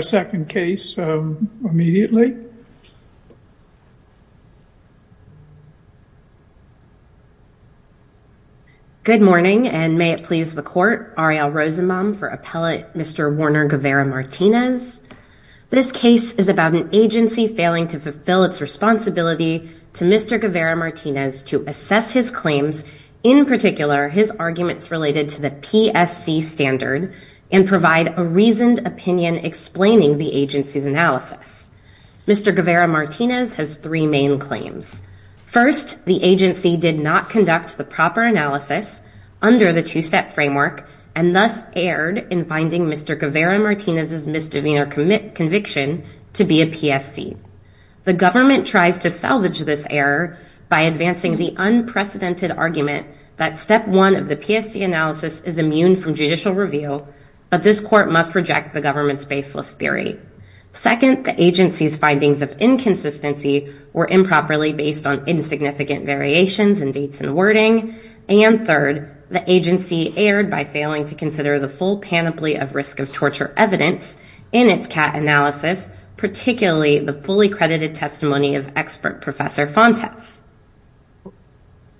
second case immediately. Good morning and may it please the court Ariel Rosenbaum for appellate Mr. Warner Guevara Martinez. This case is about an agency failing to fulfill its responsibility to Mr. Guevara Martinez to assess his claims, in particular his arguments related to the PSC standard, and provide a reasoned explaining the agency's analysis. Mr. Guevara Martinez has three main claims. First, the agency did not conduct the proper analysis under the two-step framework and thus erred in finding Mr. Guevara Martinez's misdemeanor conviction to be a PSC. The government tries to salvage this error by advancing the unprecedented argument that step one of the PSC analysis is immune from judicial review, but this court must reject the government's baseless theory. Second, the agency's findings of inconsistency were improperly based on insignificant variations in dates and wording. And third, the agency erred by failing to consider the full panoply of risk of torture evidence in its CAT analysis, particularly the fully credited testimony of expert Professor Fontes.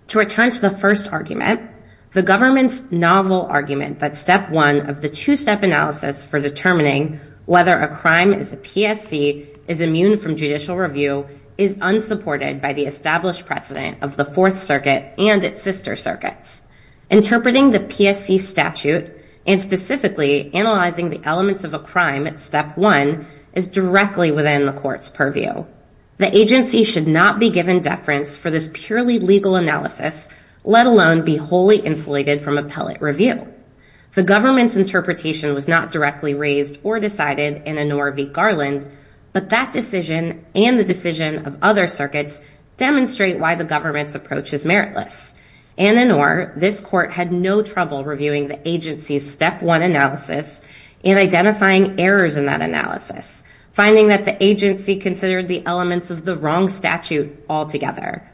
To return to the first argument, the government's novel argument that step one of the two-step analysis for determining whether a crime is a PSC is immune from judicial review is unsupported by the established precedent of the Fourth Circuit and its sister circuits. Interpreting the PSC statute and specifically analyzing the elements of a crime at step one is directly within the court's purview. The agency should not be given deference for this purely legal analysis, let alone be wholly insulated from appellate review. The government's interpretation was not directly raised or decided in Anor v. Garland, but that decision and the decision of other circuits demonstrate why the government's approach is meritless. In Anor, this court had no trouble reviewing the agency's step one analysis and identifying errors in that analysis, finding that the agency considered the elements of the wrong statute altogether.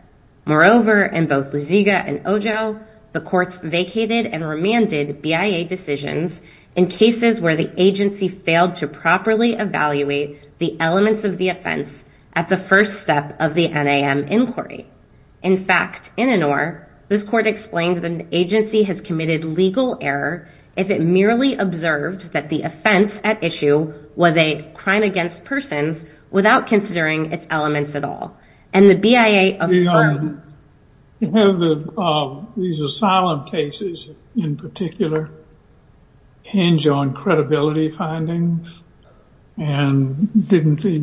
Moreover, in both Luziga and Ojo, the courts vacated and remanded BIA decisions in cases where the agency failed to properly evaluate the elements of the offense at the first step of the NAM inquiry. In fact, in Anor, this court explained that an agency has committed legal error if it merely observed that the offense at issue was a crime against persons without considering its elements at all, and the BIA of the firm... These asylum cases in particular hinge on credibility findings and didn't the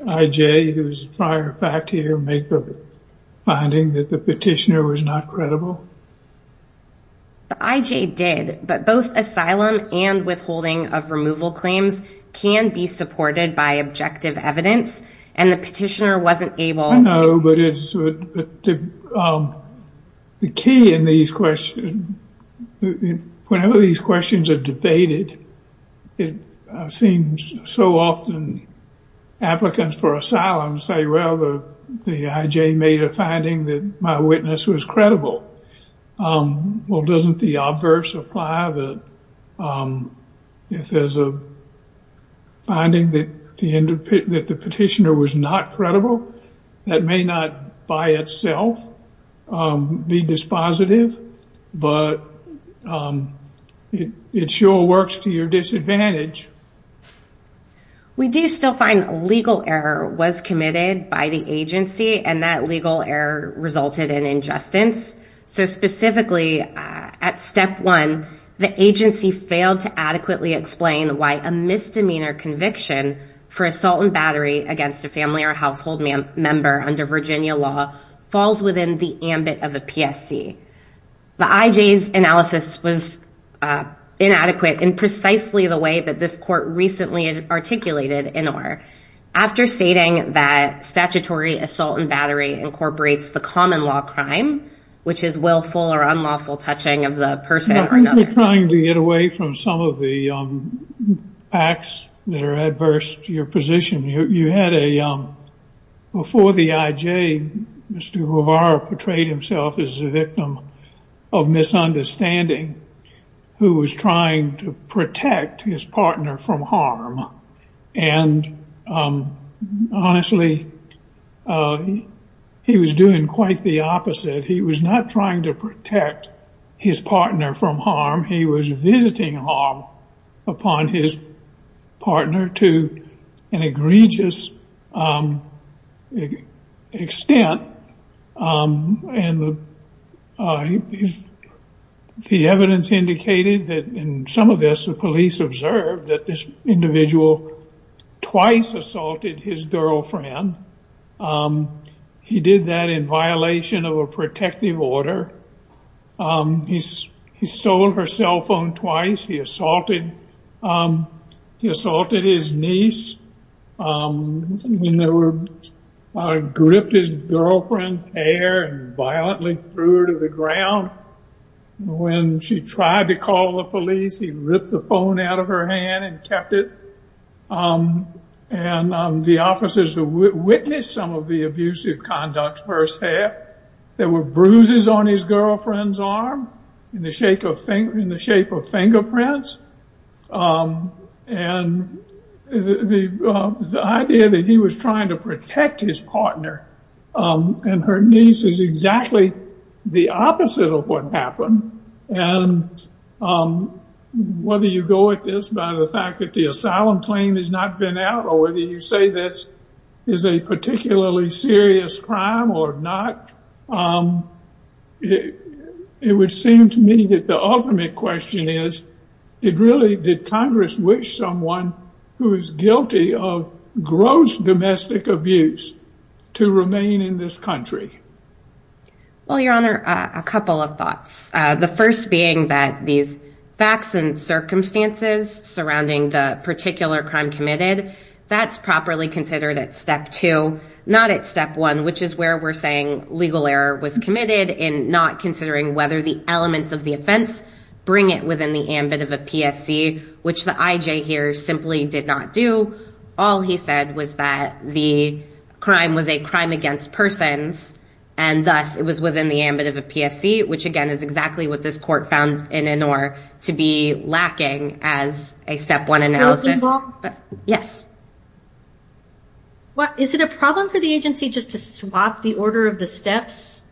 IJ, who's prior fact here, make the finding that the petitioner was not credible? The IJ did, but both asylum and withholding of removal claims can be supported by objective evidence, and the petitioner wasn't able... I know, but it's... The key in these questions, whenever these questions are debated, it seems so often applicants for asylum say, well, the IJ made a finding that my witness was credible. Well, doesn't the obverse apply that if there's a finding that the petitioner was not credible, that may not by itself be dispositive, but it sure works to your disadvantage. We do still find legal error was committed by the agency, and that legal error resulted in injustice. So specifically, at step one, the agency failed to adequately explain why a misdemeanor conviction for assault and battery against a family or household member under Virginia law falls within the ambit of a PSC. The IJ's analysis was inadequate in precisely the way that this court recently articulated in OR, after stating that statutory assault and battery incorporates the common law crime, which is willful or unlawful touching of the person or another. We're trying to get away from some of the acts that are adverse to your position. You had a... Before the IJ, Mr. Guevara portrayed himself as a of misunderstanding, who was trying to protect his partner from harm. And honestly, he was doing quite the opposite. He was not trying to protect his partner from harm. He was visiting harm upon his partner to an egregious extent. And the evidence indicated that in some of this, the police observed that this individual twice assaulted his girlfriend. He did that in violation of a protective order. He stole her cell phone twice. He assaulted his niece. He gripped his girlfriend's hair and violently threw her to the ground. When she tried to call the police, he ripped the phone out of her hand and kept it. And the officers witnessed some of the abusive conduct first half. There were bruises on his girlfriend's arm in the shape of fingerprints. And the idea that he was trying to protect his partner and her niece is exactly the opposite of what happened. And whether you go at this by the fact that the asylum claim has not been out or whether you say this is a particularly serious crime or not, it would seem to me that the ultimate question is, did Congress wish someone who is guilty of gross domestic abuse to remain in this country? Well, Your Honor, a couple of thoughts. The first being that these facts and circumstances surrounding the particular crime committed, that's properly considered at step two, not at step one, which is where we're saying legal error was committed in not considering whether the elements of the offense bring it within the ambit of a PSC, which the I.J. here simply did not do. All he said was that the crime was a crime against persons and thus it was within the ambit of a PSC, which again is exactly what this court found in an order to be lacking as a step one analysis. Is it a problem for the agency just to swap the order of the steps?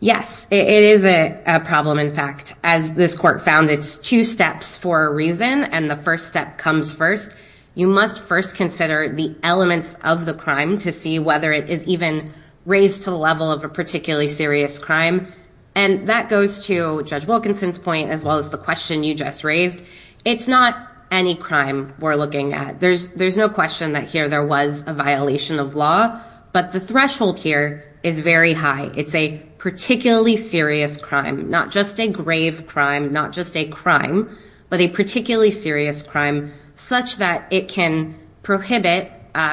Yes, it is a problem. In fact, as this court found, it's two steps for a reason. And the first step comes first. You must first consider the elements of the crime to see whether it is even raised to the level of a particularly serious crime. And that goes to Judge Wilkinson's point, as well as the question you just raised. It's not any crime we're looking at. There's no question that here there was a violation of law, but the threshold here is very high. It's a particularly serious crime, not just a grave crime, not just a crime, but a particularly serious crime, such that it can prohibit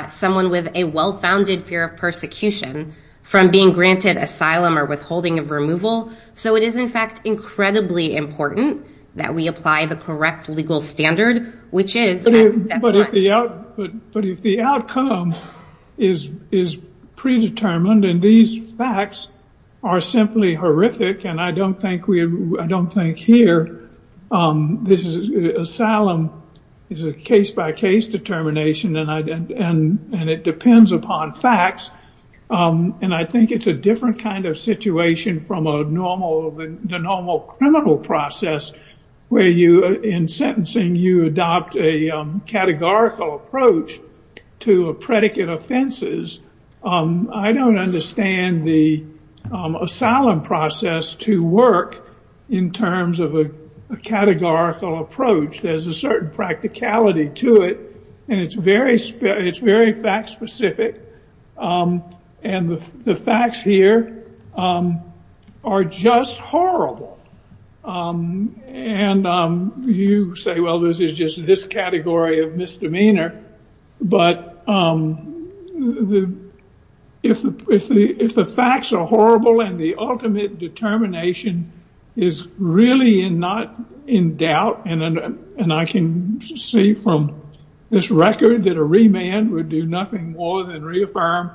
someone with a well-founded fear of persecution from being granted asylum or withholding of removal. So it is in fact incredibly important that we apply the correct legal standard, which is... But if the outcome is predetermined and these facts are simply horrific, and I don't think here asylum is a case-by-case determination, and it depends upon facts, and I think it's a different kind of situation from the normal criminal process where in sentencing you adopt a categorical approach to predicate offenses. I don't understand the asylum process to work in terms of a categorical approach. There's a it's very fact-specific, and the facts here are just horrible. And you say, well, this is just this category of misdemeanor, but if the facts are horrible and the ultimate determination is really not in doubt, and I can see from this record that a remand would do nothing more than reaffirm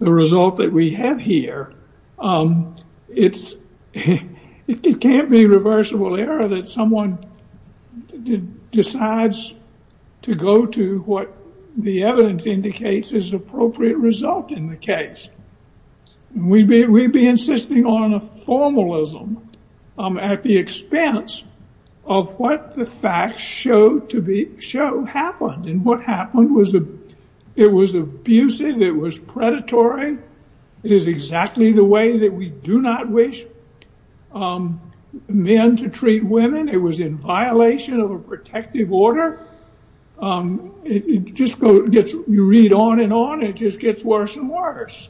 the result that we have here, it can't be reversible error that someone decides to go to what the evidence indicates is appropriate result in the case. We'd be we'd be insisting on a formalism at the expense of what the facts show to be show happened. And what happened was it was abusive, it was predatory, it is exactly the way that we do not wish men to treat women, it was in violation of a protective order. It just gets you read on and on, it just gets worse and worse.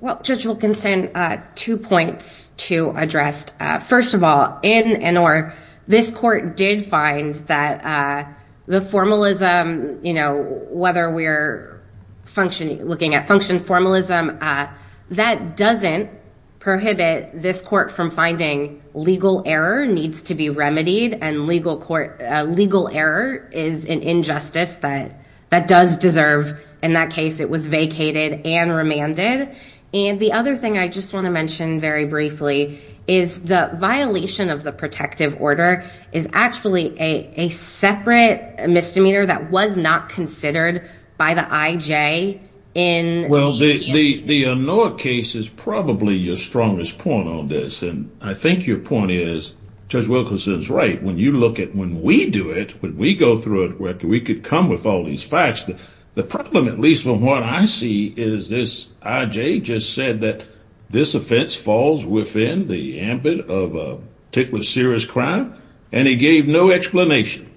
Well, Judge Wilkinson, two points to address. First of all, in and or this court did find that the formalism, you know, whether we're functioning, looking at function formalism, that doesn't prohibit this court from finding legal error needs to be remedied and legal court legal error is an injustice that that does deserve. In that case, it was vacated and remanded. And the other thing I just want to mention very briefly, is the violation of the protective order is actually a separate misdemeanor that was not considered by the IJ in well, the the the case is probably your strongest point on this. And I think your point is, Judge Wilkinson is right, when you look at when we do it, when we go through it, where we could come with all these facts that the problem, at least from what I see is this, IJ just said that this offense falls within the ambit of a particular serious crime. And he gave no explanation.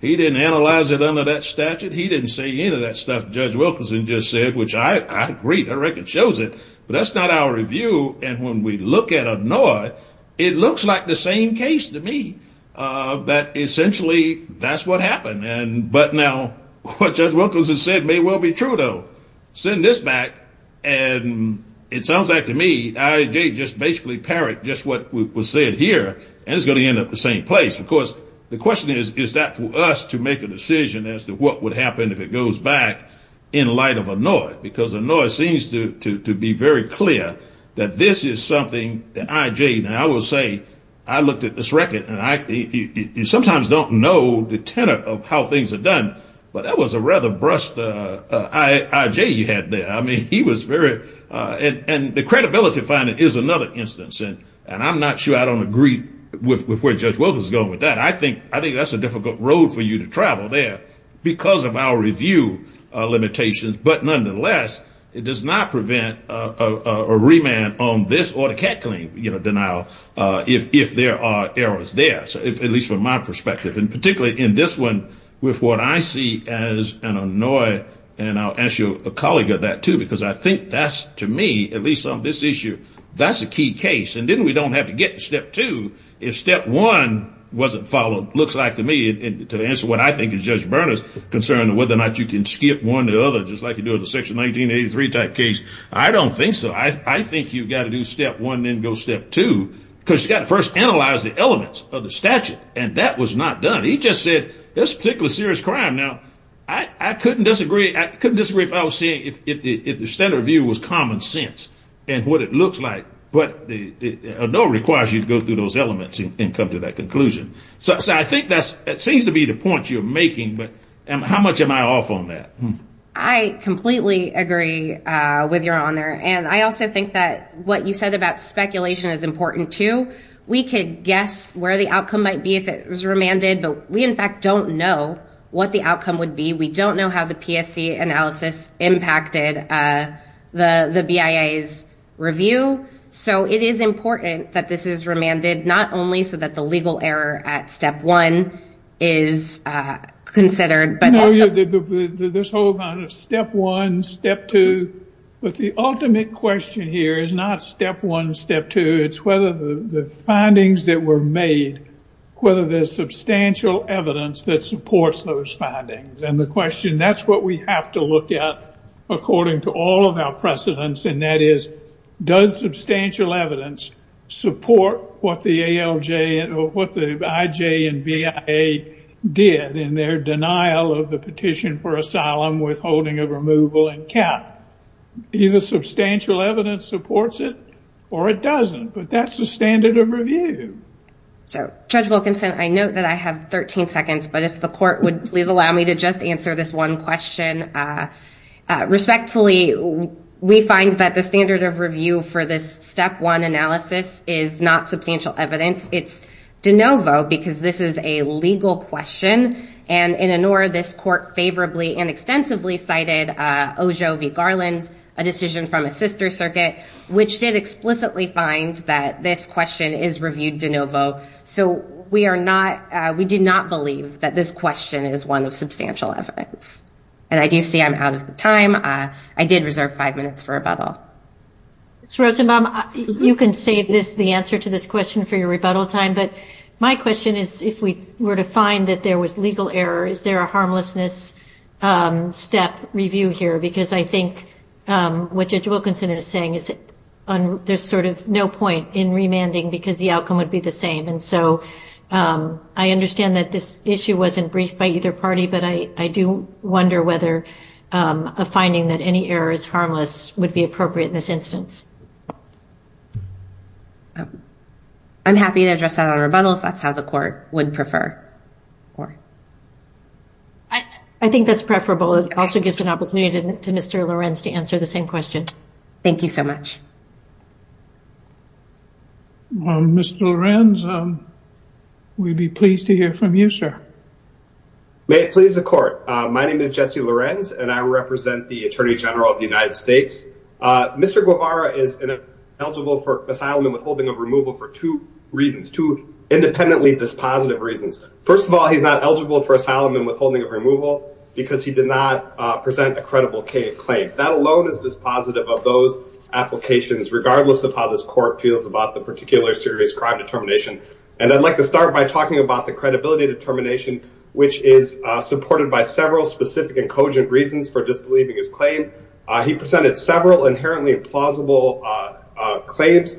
He didn't analyze it under that statute. He didn't say any of that stuff. Judge Wilkinson just said, which I agree, the record shows it. But that's not our review. And when we look at a NOAA, it looks like the same case to me, that essentially that's what happened. And but now what Judge Wilkinson said may well be true, though, send this back. And it sounds like to me, IJ just basically parrot just what was said here. And it's going to end up the same place. Of course, the question is, is that for us to make a decision as to what would if it goes back in light of a NOAA? Because a NOAA seems to be very clear that this is something that IJ, and I will say, I looked at this record and I sometimes don't know the tenor of how things are done. But that was a rather brusque IJ you had there. I mean, he was very and the credibility finding is another instance. And I'm not sure I don't agree with where Judge Wilkinson is going with that. I think I think that's a difficult road for you to travel there because of our review limitations. But nonetheless, it does not prevent a remand on this or the CAC claim, you know, denial, if there are errors there, at least from my perspective, and particularly in this one, with what I see as an NOAA. And I'll ask you a colleague of that, too, because I think that's to me, at least on this issue, that's a key case. And then we don't have to get to step two, if step one wasn't followed, looks like to me, and to answer what I think is Judge Berners concern, whether or not you can skip one or the other, just like you do in the section 1983 type case. I don't think so. I think you got to do step one, then go step two, because you got to first analyze the elements of the statute. And that was not done. He just said, this particular serious crime. Now, I couldn't disagree. I couldn't disagree if I was saying if the standard view was common sense and what it looks like, but NOAA requires you to go through those elements and come to that conclusion. So I think that seems to be the point you're making, but how much am I off on that? I completely agree with your honor. And I also think that what you said about speculation is important, too. We could guess where the outcome might be if it was remanded. But we, in fact, don't know what the outcome would be. We don't know how the PSC analysis impacted the BIA's review. So it is important that this is remanded, not only so that the legal error at step one is considered. But this whole step one, step two, but the ultimate question here is not step one, step two. It's whether the findings that were made, whether there's substantial evidence that supports those findings. And the question, that's what we have to look at according to all of our precedents. And that is, does substantial evidence support what the ALJ or what the IJ and BIA did in their denial of the petition for asylum withholding of removal and cap? Either substantial evidence supports it, or it doesn't. But that's the standard of review. So, Judge Wilkinson, I know that I have 13 seconds, but if the court would please allow me to just answer this one question. Respectfully, we find that the standard of review for this step one analysis is not substantial evidence. It's de novo, because this is a legal question. And in ANORA, this court favorably and extensively cited Ojo v. Garland, a decision from a sister circuit, which did explicitly find that this question is reviewed de novo. So we are not, we do not believe that this question is one of substantial evidence. And I do see I'm out of time. I did reserve five minutes for rebuttal. Ms. Rosenbaum, you can save this, the answer to this question for your rebuttal time. But my question is, if we were to find that there was legal error, is there a harmlessness step review here? Because I think what Judge Wilkinson is saying is there's sort of no point in remanding because the outcome would be the same. And so I understand that this issue wasn't briefed by either party, but I do wonder whether a finding that any error is harmless would be appropriate in this instance. I'm happy to address that on rebuttal if that's how the court would prefer. I think that's preferable. It also gives an opportunity to Mr. Lorenz to answer the same question. Thank you so much. Mr. Lorenz, we'd be pleased to hear from you, sir. May it please the court. My name is Jesse Lorenz and I represent the Attorney General of the United States. Mr. Guevara is eligible for asylum and withholding of removal for two reasons, two independently dispositive reasons. First of all, he's not eligible for asylum and withholding removal because he did not present a credible claim. That alone is dispositive of those applications, regardless of how this court feels about the particular serious crime determination. And I'd like to start by talking about the credibility determination, which is supported by several specific and cogent reasons for disbelieving his claim. He presented several inherently plausible claims.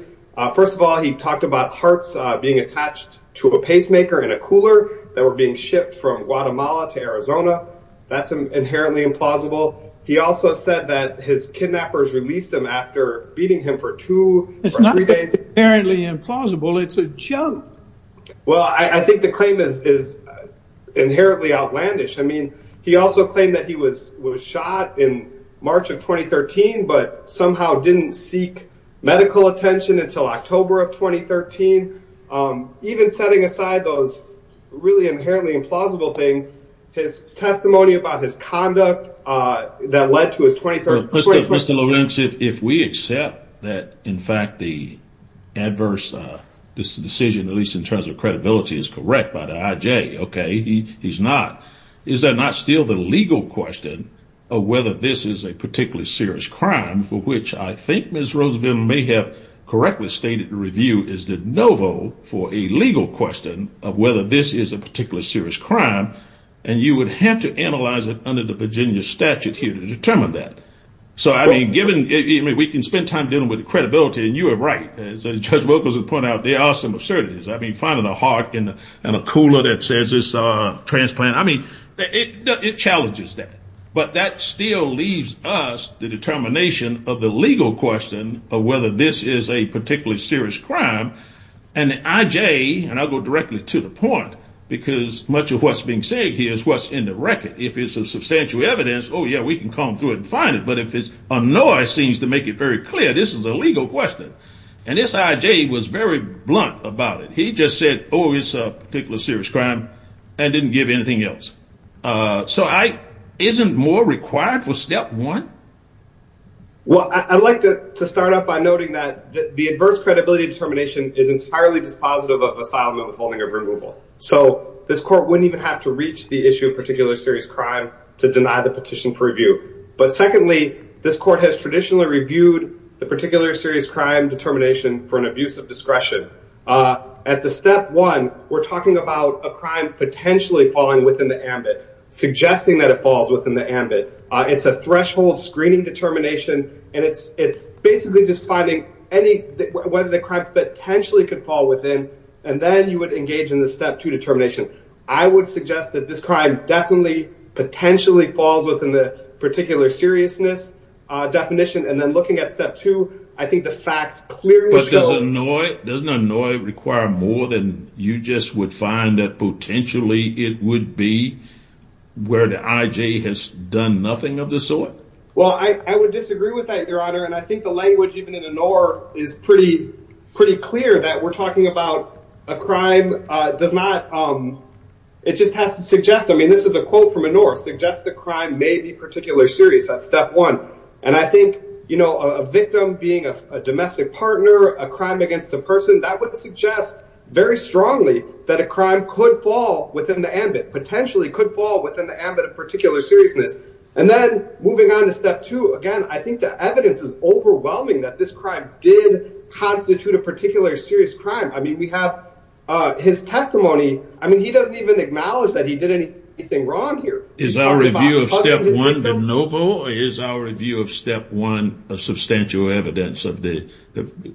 First of all, he talked about hearts being attached to a pacemaker and a cooler that were being shipped from Guatemala to Arizona. That's inherently implausible. He also said that his kidnappers released him after beating him for two days. Apparently implausible. It's a joke. Well, I think the claim is is inherently outlandish. I mean, he also claimed that he was was shot in March of 2013, but somehow didn't seek medical attention until October of 2013. Even setting aside those really inherently implausible thing, his testimony about his conduct that led to his 23rd. Mr. Lawrence, if we accept that, in fact, the adverse decision, at least in terms of credibility, is correct by the IJ. Okay, he's not. Is that not still the legal question of whether this is a particularly serious crime for which I think Ms. Roosevelt may have correctly stated the review is de novo for a legal question of whether this is a particularly serious crime. And you would have to analyze it under the Virginia statute here to determine that. So I mean, given it, we can spend time dealing with the credibility and you are right. As Judge Wilkerson pointed out, there are some absurdities. I mean, finding a heart and a cooler that says it's a transplant. I mean, it challenges that. But that still leaves us the determination of the legal question of whether this is a particularly serious crime. And the IJ, and I'll go directly to the point, because much of what's being said here is what's in the record. If it's a substantial evidence, oh, yeah, we can come through and find it. But if it's a noise seems to make it very clear, this is a legal question. And this IJ was very blunt about it. He just said, oh, it's a particular serious crime, and didn't give anything else. So I isn't more required for step one. Well, I'd like to start off by noting that the adverse credibility determination is entirely dispositive of asylum and withholding of removal. So this court wouldn't even have to reach the issue particular serious crime to deny the petition for review. But secondly, this court has traditionally reviewed the particular serious crime determination for an abuse of discretion. At the step one, we're talking about a crime potentially falling within the ambit, suggesting that it falls within the ambit. It's a threshold screening determination. And it's it's basically just finding any whether the crime potentially could fall within and then you would engage in the step two determination. I would suggest that this crime definitely potentially falls within the particular seriousness definition. And then looking at step two, I think the facts clearly. Doesn't annoy require more than you just would find that potentially it would be where the IJ has done nothing of the sort? Well, I would disagree with that, Your Honor. And I think the language even in a nor is pretty, pretty clear that we're talking about a crime does not. It just has to suggest I mean, this is a quote from a nor suggests the crime may be particularly serious at step one. And I think, you know, a victim being a domestic partner, a crime against the person that would suggest very strongly that a crime could fall within the ambit potentially could fall within the ambit of particular seriousness. And then moving on to step two. Again, I think the evidence is overwhelming that this crime did constitute a particular serious crime. I mean, we have his testimony. I mean, he doesn't even acknowledge that he did anything wrong here. Is our review of step one? No vote is our review of step one, a substantial evidence of the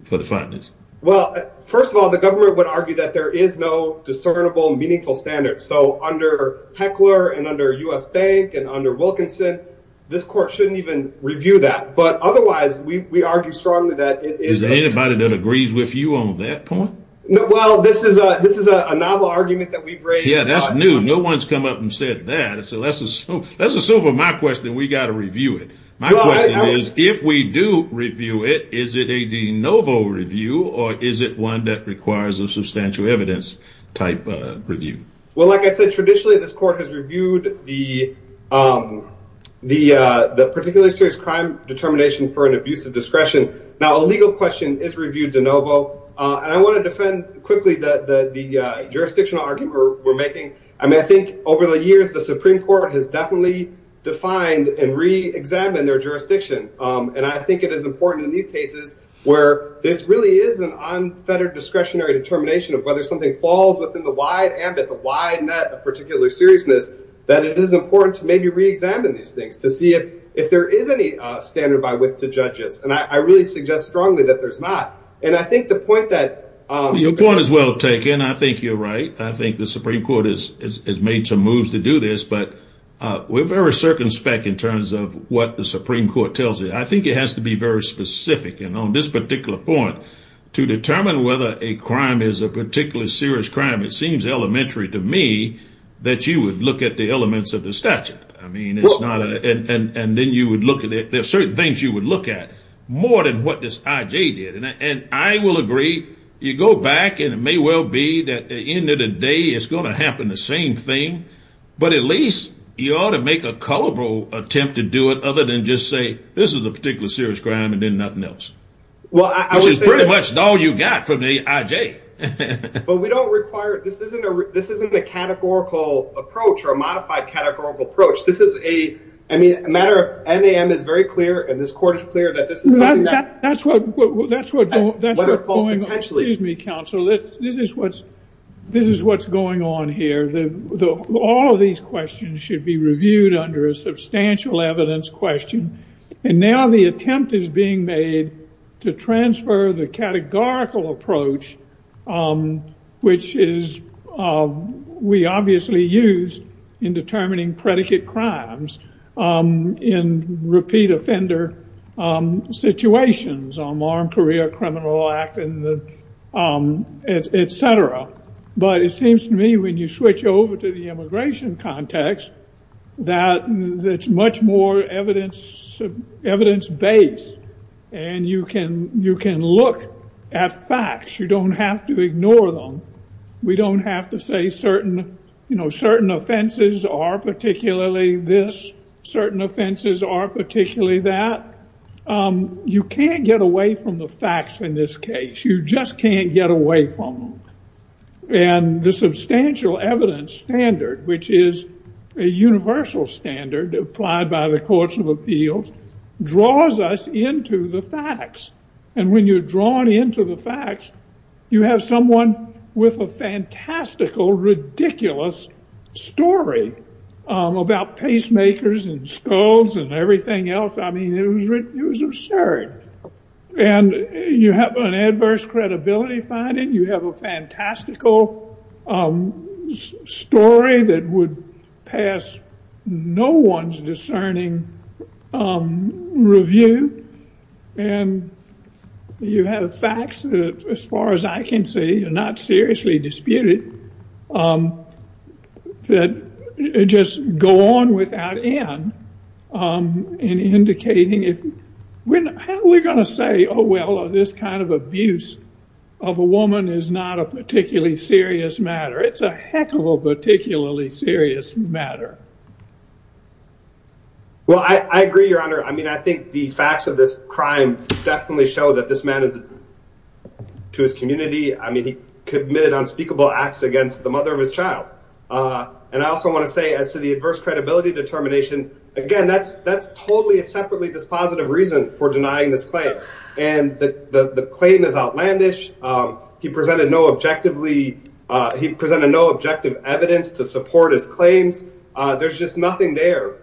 for the findings. Well, first of all, the government would argue that there is no discernible, meaningful standards. So under heckler and under U.S. Bank and under Wilkinson, this court shouldn't even review that. But otherwise, we argue strongly that is anybody that agrees with you on that point? Well, this is a this is a novel argument that yeah, that's new. No one's come up and said that. So that's a that's a silver. My question, we got to review it. My question is, if we do review it, is it a de novo review or is it one that requires a substantial evidence type review? Well, like I said, traditionally, this court has reviewed the the particularly serious crime determination for an abuse of discretion. Now, a legal question is reviewed de novo. And I want to defend quickly that the jurisdictional argument we're making. I mean, I think over the years, the Supreme Court has definitely defined and reexamined their jurisdiction. And I think it is important in these cases where this really is an unfettered discretionary determination of whether something falls within the wide ambit, the wide net of particular seriousness, that it is important to maybe reexamine these things to see if if there is any standard by which to judges. And I really suggest strongly that there's not. And I think the point that your point is well taken. I think you're right. I think the Supreme Court has made some moves to do this. But we're very circumspect in terms of what the Supreme Court tells you. I think it has to be very specific. And on this particular point, to determine whether a crime is a particularly serious crime, it seems elementary to me that you would look at the elements of the statute. I mean, it's not and then you would look at it. There are certain things you would look at more than what this IJ did. And I will agree. You go back and it may well be that at the end of the day, it's going to happen the same thing. But at least you ought to make a colorful attempt to do it other than just say this is a particular serious crime and then nothing else. Well, I was pretty much all you got from the IJ. But we don't require it. This isn't this isn't a categorical approach or a modified categorical approach. This is a I mean, a matter of NAM is very clear. And this court is clear that this is not. That's what that's what that's what actually is me, counsel. This is what's this is what's going on here. All of these questions should be reviewed under a substantial evidence question. And now the attempt is being made to transfer the categorical approach, which is we obviously use in determining predicate crimes in repeat offender situations on armed career criminal act and etc. But it seems to me when you switch over to the immigration context, that that's much more evidence, evidence based. And you can you can look at facts, you don't have to ignore them. We don't have to say certain, you know, certain offenses are particularly that you can't get away from the facts in this case, you just can't get away from them. And the substantial evidence standard, which is a universal standard applied by the courts of appeals, draws us into the facts. And when you're drawn into the facts, you have someone with a fantastical, ridiculous story about pacemakers and skulls and everything else. I mean, it was it was absurd. And you have an adverse credibility finding you have a fantastical story that would pass no one's discerning review. And you have facts, as far as I can see, you're not seriously disputed. That just go on without end. And indicating if we're gonna say, oh, well, this kind of abuse of a woman is not a particularly serious matter. It's a heck of a particularly serious matter. Well, I agree, Your Honor. I mean, I think the facts of this crime definitely show that this man is to his community. I mean, he committed unspeakable acts against the mother of his child. And I also want to say as to the adverse credibility determination, again, that's totally a separately dispositive reason for denying this claim. And the claim is outlandish. He presented no objective evidence to support his claims. There's just nothing there.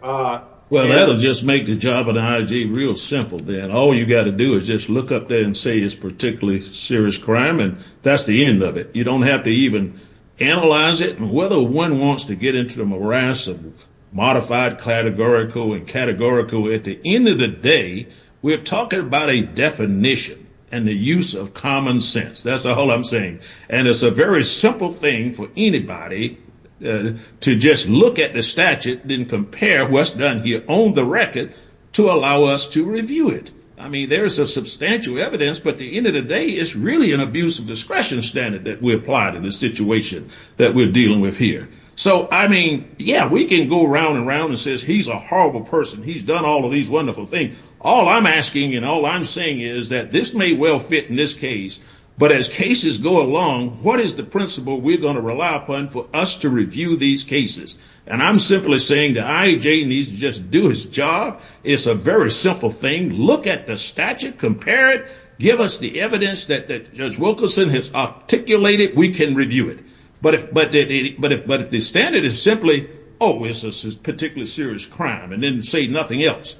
Well, that'll just make the job of the IG real simple. Then all you got to do is just look up there and say it's particularly serious crime. And that's the end of it. You don't have to even analyze it. And whether one wants to get into the morass of modified categorical and categorical, at the end of the day, we're talking about a definition and the use of common sense. That's all I'm saying. And it's a very simple thing for anybody to just look at the statute, then compare what's done here on the record to allow us to review it. I mean, there is a substantial evidence, but at the end of the day, it's really an abuse of discretion standard that we applied in the situation that we're dealing with here. So, I mean, yeah, we can go around and around and says he's a horrible person. He's done all of these wonderful things. All I'm asking and all I'm saying is that this may well fit in this case, but as cases go along, what is the principle we're going to rely upon for us to review these cases? And I'm simply saying the IJ needs to just do his job. It's a very simple thing. Look at the statute, compare it, give us the evidence that Judge Wilkerson has articulated, we can review it. But if the standard is simply, oh, it's a particularly serious crime and then say nothing else,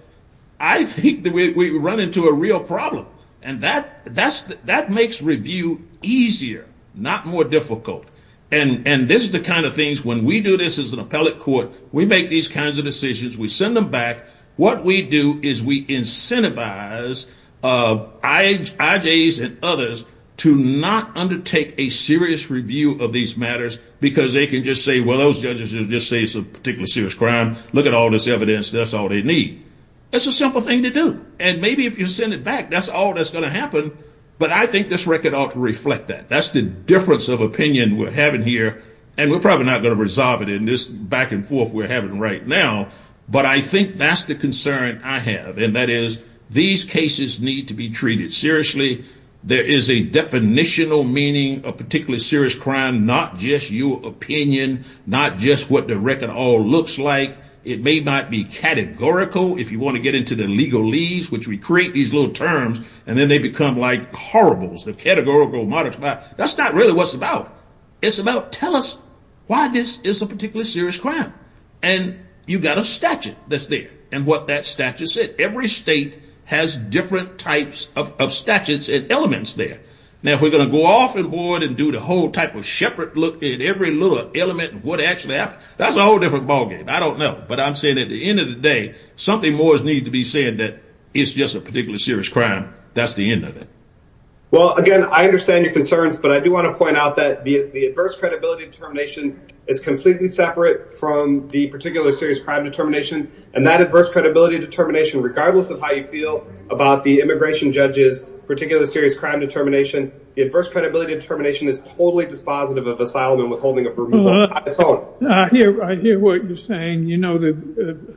I think that we run into a real problem. And that makes review easier, not more difficult. And this is the kind of things when we do this as an appellate court, we make these kinds of decisions, we send them back. What we do is we incentivize IJs and others to not undertake a serious review of these matters because they can just say, well, those judges will just say it's a particularly serious crime. Look at all this evidence. That's all they need. It's a simple thing to do. And maybe if you send it back, that's all that's going to happen. But I think this record ought to reflect that. That's the difference of opinion we're having here. And we're probably not going to resolve it in this right now. But I think that's the concern I have. And that is these cases need to be treated seriously. There is a definitional meaning of particularly serious crime, not just your opinion, not just what the record all looks like. It may not be categorical. If you want to get into the legalese, which we create these little terms, and then they become like horribles, the categorical that's not really what it's about. It's about tell us why this is a particularly serious crime. And you've got a statute that's there and what that statute said. Every state has different types of statutes and elements there. Now, if we're going to go off and board and do the whole type of shepherd look at every little element and what actually happened, that's a whole different ballgame. I don't know. But I'm saying at the end of the day, something more is needed to be said that it's just a particularly serious crime. That's the end of it. Well, again, I understand your concerns, but I do want to point out that the adverse credibility determination is completely separate from the particular serious crime determination. And that adverse credibility determination, regardless of how you feel about the immigration judges, particularly serious crime determination, the adverse credibility determination is totally dispositive of asylum and withholding of removal. I hear I hear what you're saying. I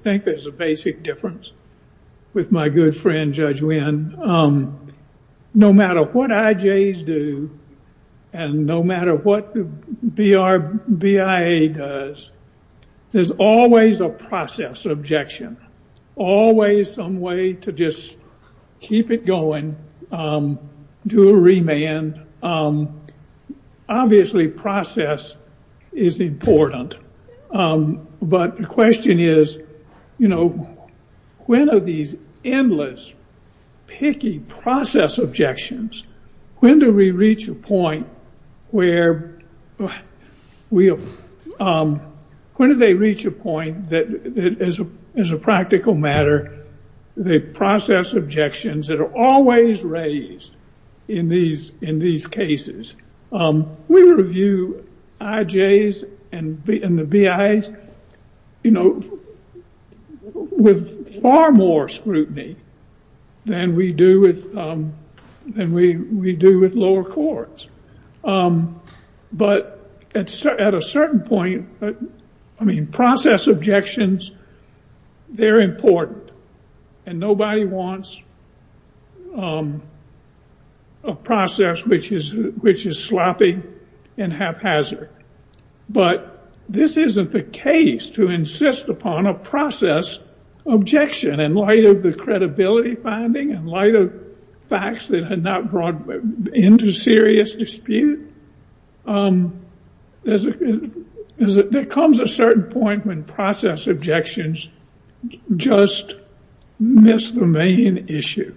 think there's a basic difference with my good friend Judge Wynn. No matter what IJs do and no matter what the BIA does, there's always a process objection. Always some way to just is, you know, when are these endless, picky process objections, when do we reach a point where, when do they reach a point that as a practical matter, they process objections that are always raised in these cases? We review IJs and the BIAs, you know, with far more scrutiny than we do with lower courts. But at a certain point, I mean, process objections, they're important and nobody wants a process which is sloppy and haphazard. But this isn't the case to insist upon a process objection in light of the credibility finding, in light of facts that had not brought into serious dispute. There comes a certain point when process objections just miss the main issue.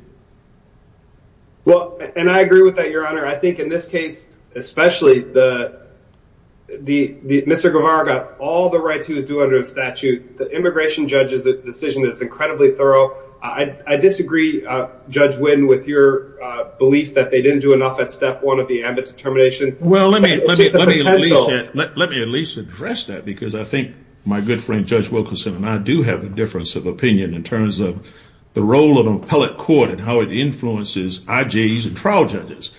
Well, and I agree with that, Your Honor. I think in this case, especially, Mr. Guevara got all the rights he was due under a statute. The immigration judge's decision is incredibly thorough. I disagree, Judge Wynn, with your belief that they didn't do enough at step one of the ambit of termination. Well, let me at least address that because I think my good friend Judge Wilkinson and I do have a difference of opinion in terms of the role of an appellate court and how it influences IJs and trial judges.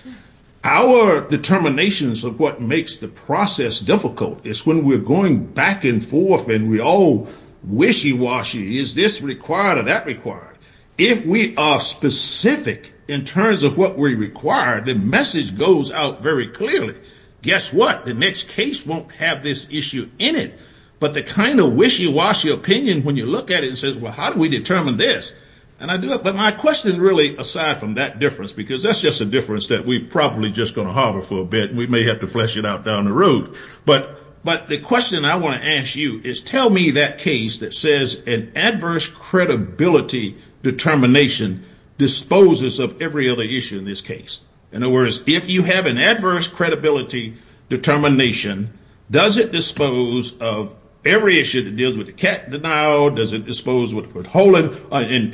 Our determinations of what makes the process difficult is when we're going back and forth and we're all wishy-washy. Is this required or that required? If we are specific in terms of what we require, the message goes out very clearly. Guess what? The next case won't have this issue in it, but the kind of wishy-washy opinion when you look at it says, well, how do we determine this? But my question really aside from that difference, because that's just a difference that we're probably just going to hover for a bit and we may have to flesh it out down the road, but the question I want to ask you is tell me that case that says an adverse credibility determination disposes of every other issue in this case. In other words, if you have an adverse credibility determination, does it dispose of every issue that deals with the cat denial? Does it dispose of withholding? What is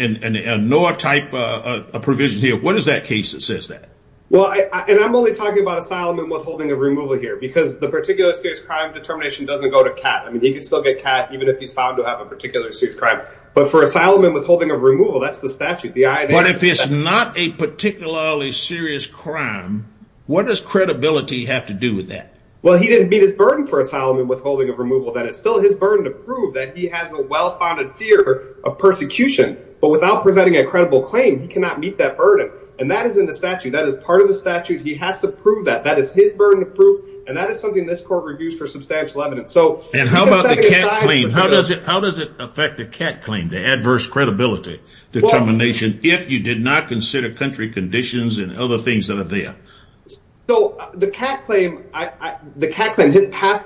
that case that says that? I'm only talking about asylum and withholding of removal here because the particular serious crime determination doesn't go to cat. I mean, you can still get cat even if he's found to have a particular serious crime, but for asylum and withholding of removal, that's the statute. But if it's not a particularly serious crime, what does credibility have to do with that? Well, he didn't meet his burden for asylum and withholding of removal. That is still his burden to prove that he has a well-founded fear of persecution, but without presenting a credible claim, he cannot meet that burden. And that is in the statute. That is part of the statute. He has to prove that. That is his burden to prove. And that is something this court reviews for substantial evidence. And how about the cat claim? How does it affect the cat claim, the adverse credibility determination, if you did consider country conditions and other things that are there? So the cat claim, his past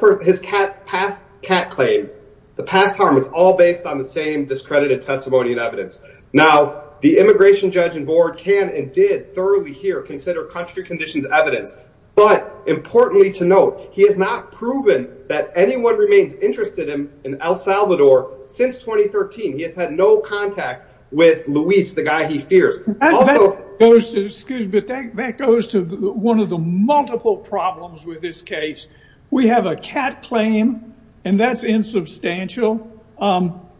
cat claim, the past harm is all based on the same discredited testimony and evidence. Now, the immigration judge and board can and did thoroughly here consider country conditions evidence. But importantly to note, he has not proven that anyone remains interested in El Salvador since 2013. He has had no contact with Luis, the guy he fears. And that goes to, excuse me, that goes to one of the multiple problems with this case. We have a cat claim and that's insubstantial.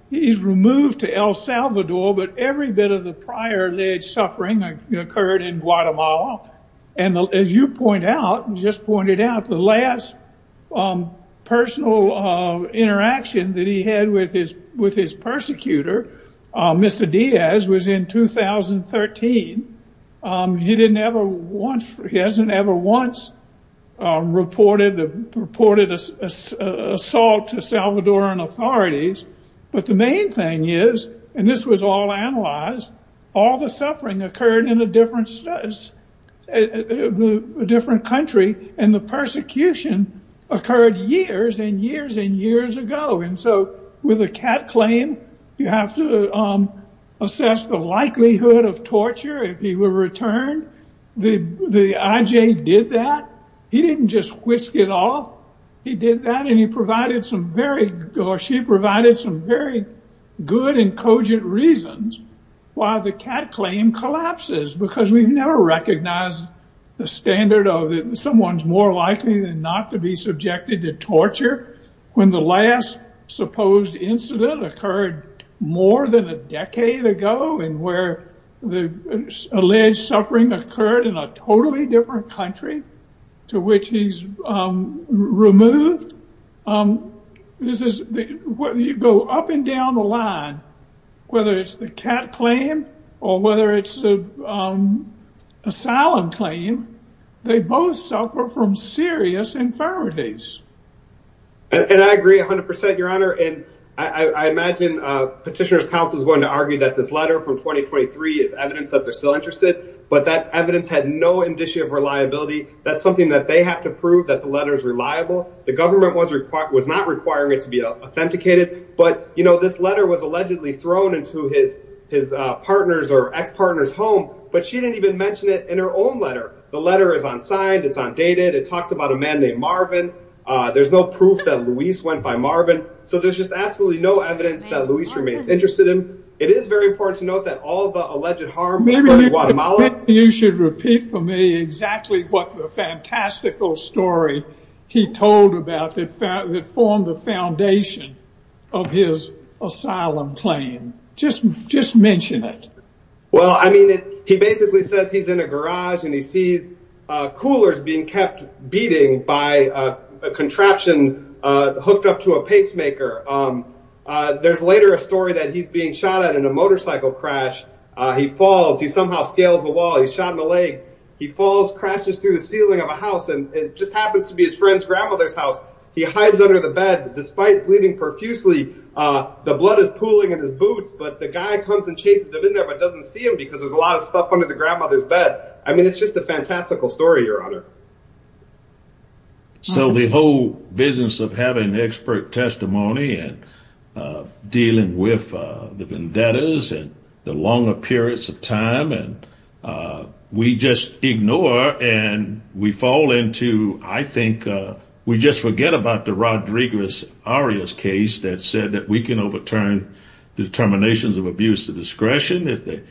He's removed to El Salvador, but every bit of the prior alleged suffering occurred in Guatemala. And as you point out, just pointed out, the last personal interaction that he had with his persecutor, Mr. Diaz, was in 2013. He didn't ever once, he hasn't ever once reported assault to Salvadoran authorities. But the main thing is, and this was all analyzed, all the suffering occurred in a different country. And the persecution occurred years and years and years ago. And so with a cat claim, you have to assess the likelihood of torture if he will return. The IJ did that. He didn't just whisk it off. He did that and he provided some very, or she provided some very good and cogent reasons why the cat claim collapses because we've never recognized the standard of someone's more likely than not to be subjected to torture when the last supposed incident occurred more than a decade ago and where the alleged suffering occurred in a totally different country to which he's removed. This is where you go up and down the line, whether it's the cat claim or whether it's the asylum claim, they both suffer from serious infirmities. And I agree 100 percent, your honor. And I imagine petitioner's counsel is going to argue that this letter from 2023 is evidence that they're still interested. But that evidence had no indicia of reliability. That's something that they have to prove that the letter is reliable. The government was required, was not requiring it to be authenticated. But, you know, this letter was allegedly thrown into his his partners or ex-partners home, but she didn't even mention it in her own letter. The letter is unsigned. It's undated. It talks about a man named Marvin. There's no proof that Luis went by Marvin. So there's just absolutely no evidence that Luis remains interested in. It is very important to all the alleged harm in Guatemala. You should repeat for me exactly what the fantastical story he told about that formed the foundation of his asylum claim. Just just mention it. Well, I mean, he basically says he's in a garage and he sees coolers being kept beating by a contraption hooked up to a pacemaker. There's later a story that he's being shot at in a motorcycle crash. He falls. He somehow scales the wall. He's shot in the leg. He falls, crashes through the ceiling of a house, and it just happens to be his friend's grandmother's house. He hides under the bed. Despite bleeding profusely, the blood is pooling in his boots. But the guy comes and chases him in there, but doesn't see him because there's a lot of stuff under the grandmother's bed. I mean, it's just a fantastical story, Your Honor. So the whole business of having expert testimony and dealing with the vendettas and the longer periods of time and we just ignore and we fall into, I think, we just forget about the Rodriguez Arias case that said that we can overturn the determinations of abuse of discretion. If the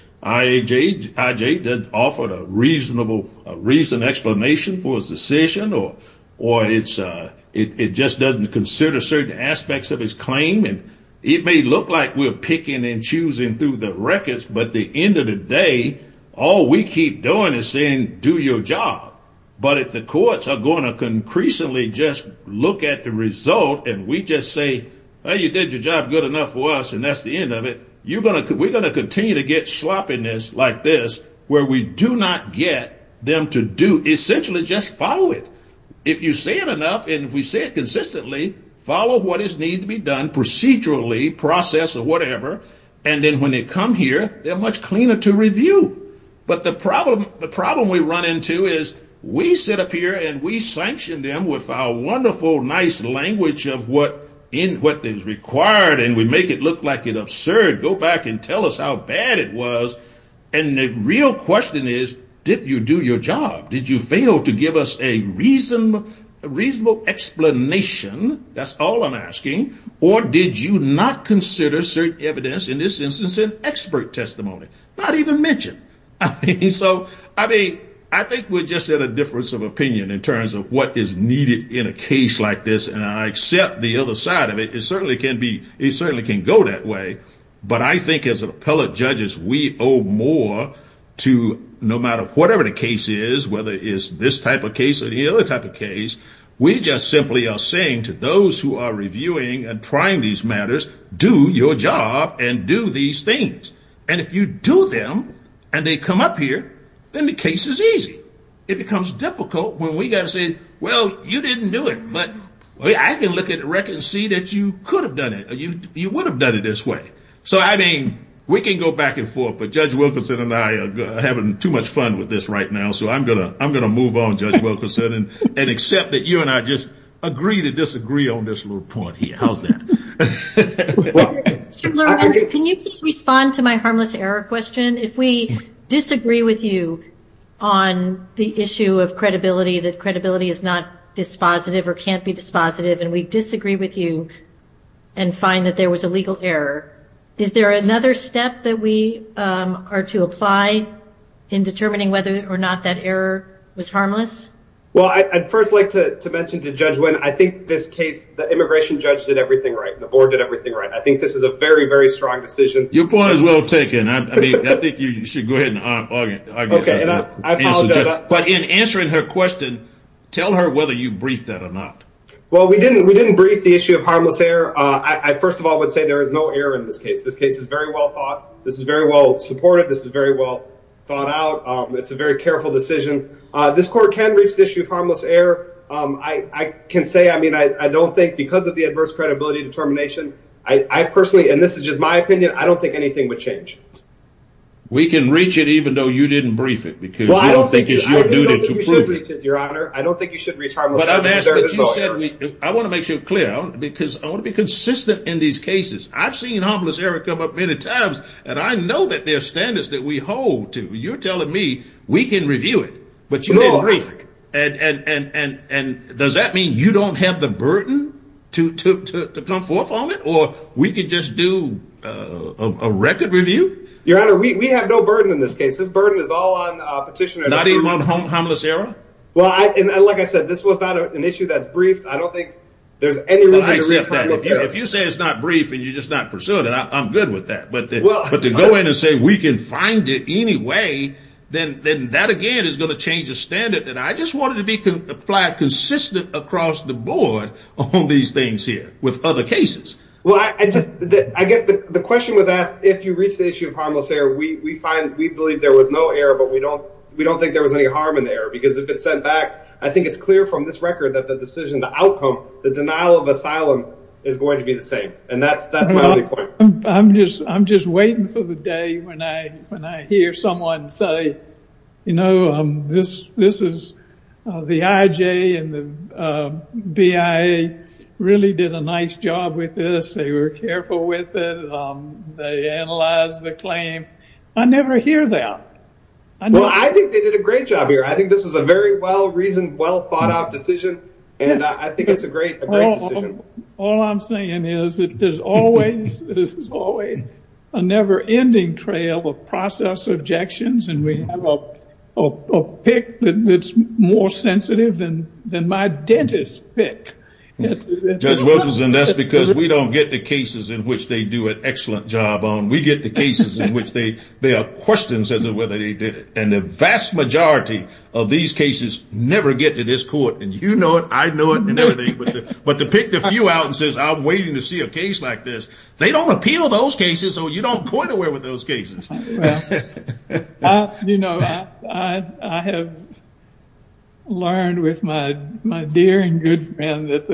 reason explanation for his decision or it just doesn't consider certain aspects of his claim. It may look like we're picking and choosing through the records, but at the end of the day, all we keep doing is saying, do your job. But if the courts are going to increasingly just look at the result and we just say, well, you did your job good enough for us and that's the end of it, we're going to continue to get sloppiness like this where we do not get them to do essentially just follow it. If you say it enough and if we say it consistently, follow what is needed to be done procedurally, process or whatever, and then when they come here, they're much cleaner to review. But the problem we run into is we sit up here and we sanction them with our wonderful, nice language of what is required and we make it look like it absurd, go back and tell us how bad it was. And the real question is, did you do your job? Did you fail to give us a reasonable explanation? That's all I'm asking. Or did you not consider certain evidence in this instance in expert testimony, not even mentioned? I think we're just at a difference of opinion in terms of what is needed in a case like this. And I accept the other side of it. It certainly can go that way. But I think as appellate judges, we owe more to no matter whatever the case is, whether it is this type of case or the other type of case, we just simply are saying to those who are reviewing and trying these matters, do your job and do these things. And if you do them and they come up here, then the case is easy. It becomes difficult when we say, well, you didn't do it, but I can look at the record and see that you could have done it. You would have done it this way. So I mean, we can go back and forth, but Judge Wilkinson and I are having too much fun with this right now. So I'm going to move on, Judge Wilkinson, and accept that you and I just agree to disagree on this little point here. How's that? Can you please respond to my harmless error question? If we disagree with you on the issue of credibility, that credibility is not dispositive or can't be dispositive, and we disagree with you and find that there was a legal error, is there another step that we are to apply in determining whether or not that error was harmless? Well, I'd first like to mention to Judge Wynn, I think this case, the immigration judge did everything right. The board did everything right. I think this is a very, very strong decision. Your point is well taken. I mean, I think you should go ahead and argue. I apologize. But in answering her question, tell her whether you briefed that or not. Well, we didn't. We didn't brief the issue of harmless error. I first of all would say there is no error in this case. This case is very well thought. This is very well supported. This is very well thought out. It's a very careful decision. This court can reach the issue of harmless error. I can say, I mean, I don't think because of the adverse credibility determination, I personally, and this is just my opinion, I don't think anything would change. We can reach it even though you didn't brief it because you don't think it's your duty to prove it. Your Honor, I don't think you should reach harmless error. But I'm asking that you said, I want to make sure you're clear because I want to be consistent in these cases. I've seen harmless error come up many times and I know that there are standards that we hold to. You're telling me we can review it, but you didn't brief it. And does that mean you don't have the burden to come forth on it? Or we could just do a record review? Your Honor, we have no burden in this case. This burden is all on petitioners. Not even on harmless error? Well, like I said, this was not an issue that's briefed. I don't think there's any reason to reframe it. If you say it's not brief and you're just not pursuing it, I'm good with that. But to go in and say we can find it anyway, then that again is going to change the standard. And I just wanted to be consistent across the board on these things here with other cases. Well, I guess the question was asked, if you reach the issue of harmless error, we believe there was no error, but we don't think there was any harm in the error. Because if it's sent back, I think it's clear from this record that the decision, the outcome, the denial of asylum is going to be the same. And that's my only point. I'm just waiting for the day when I hear someone say, you know, this is the IJ and the BIA really did a nice job with this. They were careful with it. They analyzed the claim. I never hear that. Well, I think they did a great job here. I think this was a very well-reasoned, well-thought-out decision. And I think it's a great decision. All I'm saying is that there's always a never-ending trail of process objections. And we have a pick that's more sensitive than my dentist pick. Judge Wilkerson, that's because we don't get the cases in which they do an excellent job on. We get the cases in which there are questions as to whether they did it. And the vast majority of these cases never get to this court. And you know it, I know it, and everything. But to pick the few out and say, I'm waiting to see a case like this, they don't appeal those cases, so you don't coin away with those cases. You know, I have learned with my dear and good friend that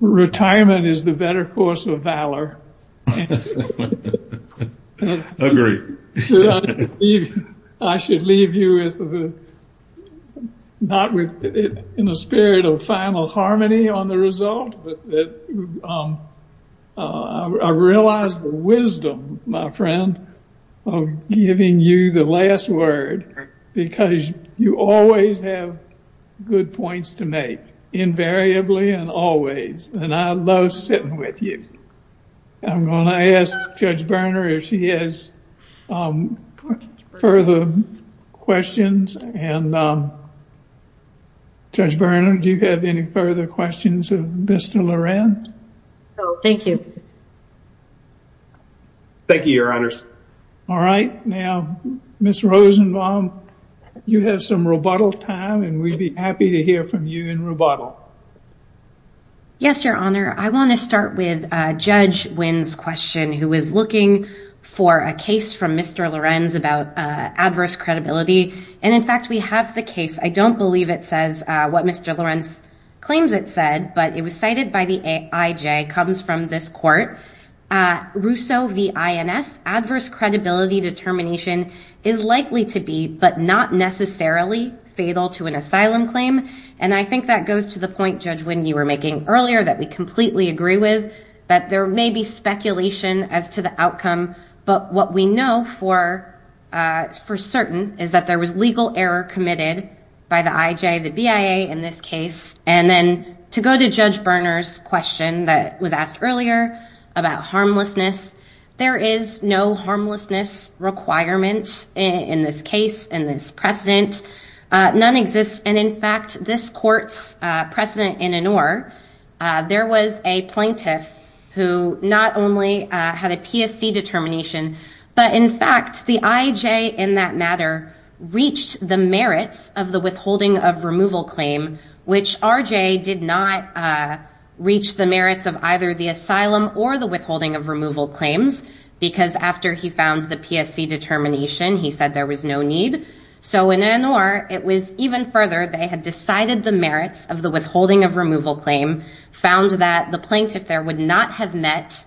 retirement is the better course of valor. Agree. I should leave you with, not in the spirit of final harmony on the result, but I realize the wisdom, my friend, of giving you the last word. Because you always have good points to make, invariably and always. And I love sitting with you. I'm going to ask Judge Berner if she has any further questions. And Judge Berner, do you have any further questions of Mr. Loren? Thank you. Thank you, Your Honors. All right. Now, Ms. Rosenbaum, you have some rebuttal time, and we'd be happy to hear from you in rebuttal. Yes, Your Honor. I want to start with Judge Wynn's question, who is looking for a case from Mr. Loren's about adverse credibility. And in fact, we have the case. I don't believe it says what Mr. Loren claims it said, but it was cited by the AIJ, comes from this court. RUSO v. INS, adverse credibility determination is likely to be, but not necessarily, fatal to an asylum claim. And I think that goes to the point, Judge Wynn, you were making earlier that we completely agree with, that there may be speculation as to the what we know for certain is that there was legal error committed by the AIJ, the BIA in this case. And then to go to Judge Berner's question that was asked earlier about harmlessness, there is no harmlessness requirement in this case, in this precedent. None exists. And in fact, this court's precedent in ANOR, there was a plaintiff who not only had a PSC determination, but in fact, the AIJ in that matter, reached the merits of the withholding of removal claim, which RJ did not reach the merits of either the asylum or the withholding of removal claims, because after he found the PSC determination, he said there was no need. So in ANOR, it was even further, they had decided the merits of the withholding of removal claim, found that the plaintiff there would not have met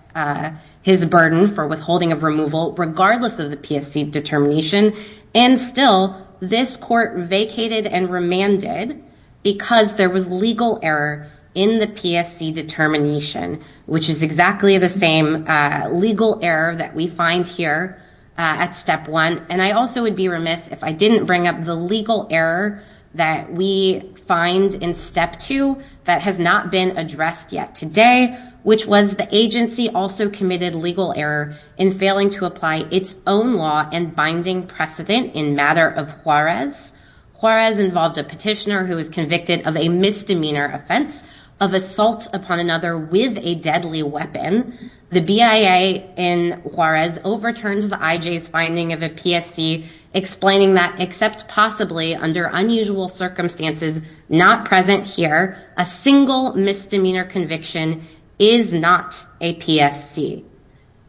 his burden for withholding of removal, regardless of the PSC determination. And still, this court vacated and remanded, because there was legal error in the PSC determination, which is exactly the same legal error that we find here at step one. And I also would be remiss if I didn't bring up the legal error that we find in step two, that has not been addressed yet today, which was the agency also committed legal error in failing to apply its own law and binding precedent in matter of Juarez. Juarez involved a petitioner who was convicted of a misdemeanor offense of assault upon another with a deadly weapon. The BIA in Juarez overturned the AIJ's finding of a PSC, explaining that except possibly under unusual circumstances, not present here, a single misdemeanor conviction is not a PSC.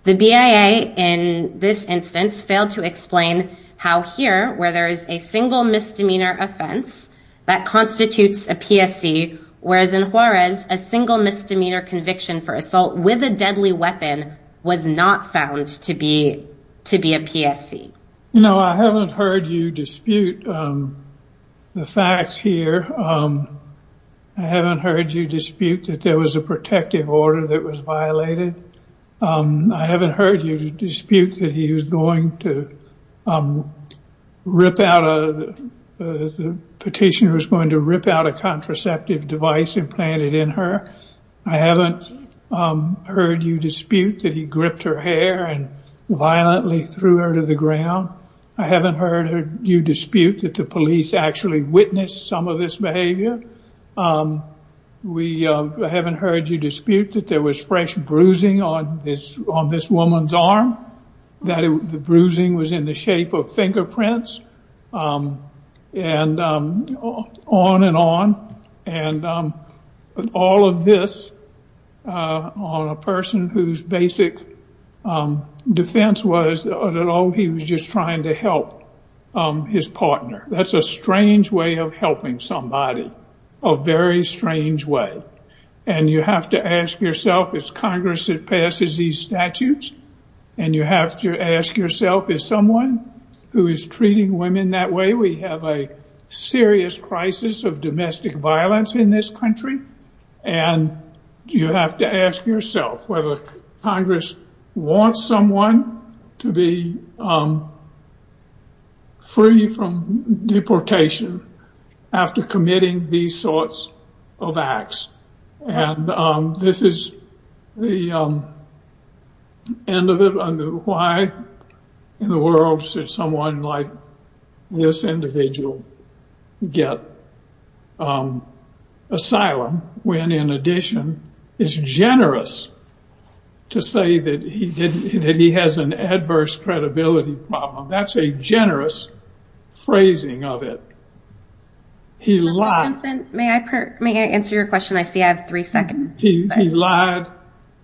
The BIA in this instance failed to explain how here, where there is a single misdemeanor offense, that constitutes a PSC, whereas in Juarez, a single misdemeanor conviction for assault with a deadly weapon was not found to be to be a PSC. You know, I haven't heard you dispute the facts here. I haven't heard you dispute that there was a protective order that was violated. I haven't heard you dispute that he was going to rip out, the petitioner was going to rip out a contraceptive device implanted in her. I haven't heard you dispute that he gripped her hair and violently threw her to the ground. I haven't heard you dispute that the police actually witnessed some of this behavior. We haven't heard you dispute that there was fresh bruising on this woman's arm, that the bruising was in the shape of fingerprints, and on and on. And all of this on a person whose basic defense was that he was just trying to help his partner. That's a strange way of helping somebody, a very strange way. And you have to ask yourself, as Congress, it passes these statutes, and you have to ask yourself, is someone who is treating women that way? We have a serious crisis of domestic violence in this country. And you have to ask yourself whether Congress wants someone to be free from deportation after committing these sorts of acts. And this is the end of it. Why in the world should someone like this individual get asylum, when in addition, it's generous to say that he has an adverse credibility problem. That's generous phrasing of it. He lied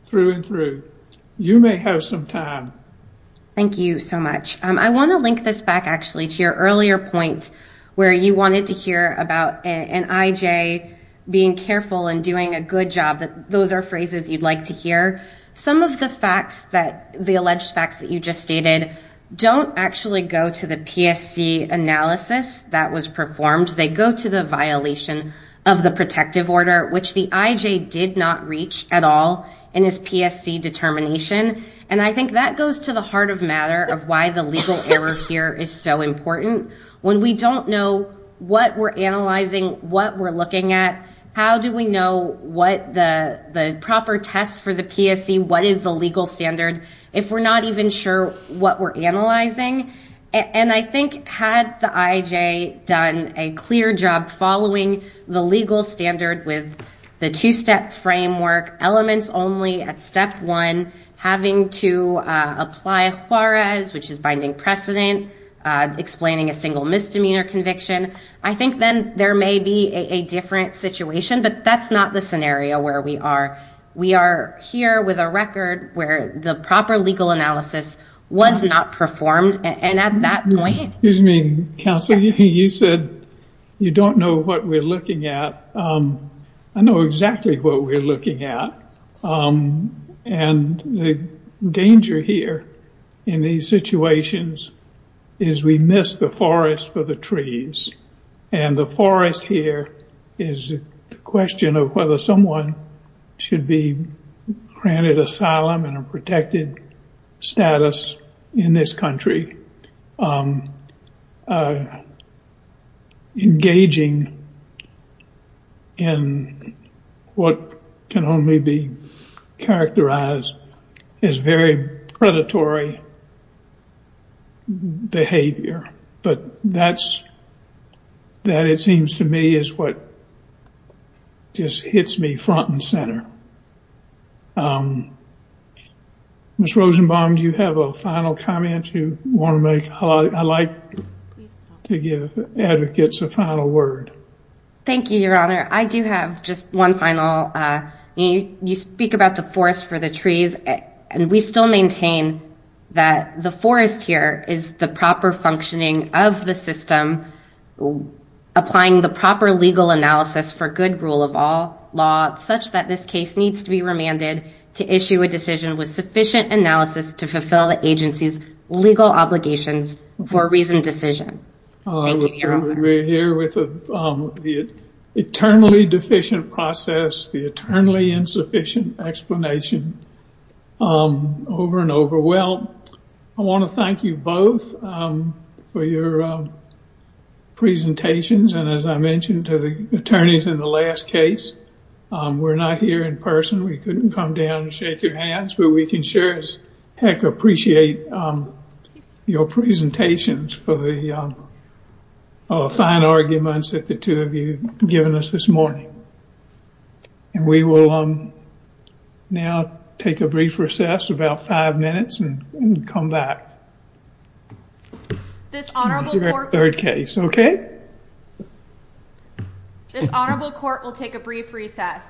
through and through. You may have some time. Thank you so much. I want to link this back actually to your earlier point, where you wanted to hear about an IJ being careful and doing a good job that those are phrases you'd like to hear. Some of the facts that the alleged facts that you just stated don't actually go to the PSC analysis that was performed. They go to the violation of the protective order, which the IJ did not reach at all in his PSC determination. And I think that goes to the heart of matter of why the legal error here is so important. When we don't know what we're analyzing, what we're looking at, how do we know what the proper test for the PSC, what is the legal standard, if we're not even sure what we're analyzing. And I think had the IJ done a clear job following the legal standard with the two-step framework, elements only at step one, having to apply Juarez, which is binding precedent, explaining a single misdemeanor conviction. I think then there may be a different situation, but that's not the scenario where we are. We are here with a record where the proper legal analysis was not performed. And at that point... Excuse me, counsel. You said you don't know what we're looking at. I know exactly what we're looking at. And the danger here in these situations is we miss the forest for the trees. And the forest here is the question of whether someone should be granted asylum and a protected status in this country. Engaging in what can only be characterized as very predatory behavior. But that, it seems to me, is what just hits me front and center. Ms. Rosenbaum, do you have a final comment you want to make? I like to give advocates a final word. Thank you, Your Honor. I do have just one final. You speak about the forest for the trees, and we still maintain that the forest here is the proper functioning of the system, applying the proper legal analysis for good rule of all law, such that this case needs to be remanded to issue a decision with sufficient analysis to fulfill the agency's legal obligations for reasoned decision. Thank you, Your Honor. We're here with the eternally deficient process, the eternally insufficient explanation, over and over. Well, I want to thank you both for your presentations. And as I mentioned to the attorneys in the last case, we're not here in person. We couldn't come down and shake your hands, but we can sure as heck appreciate your presentations for the fine arguments that the two of you have given us this morning. And we will now take a brief recess, about five minutes, and come back. This honorable court will take a brief recess.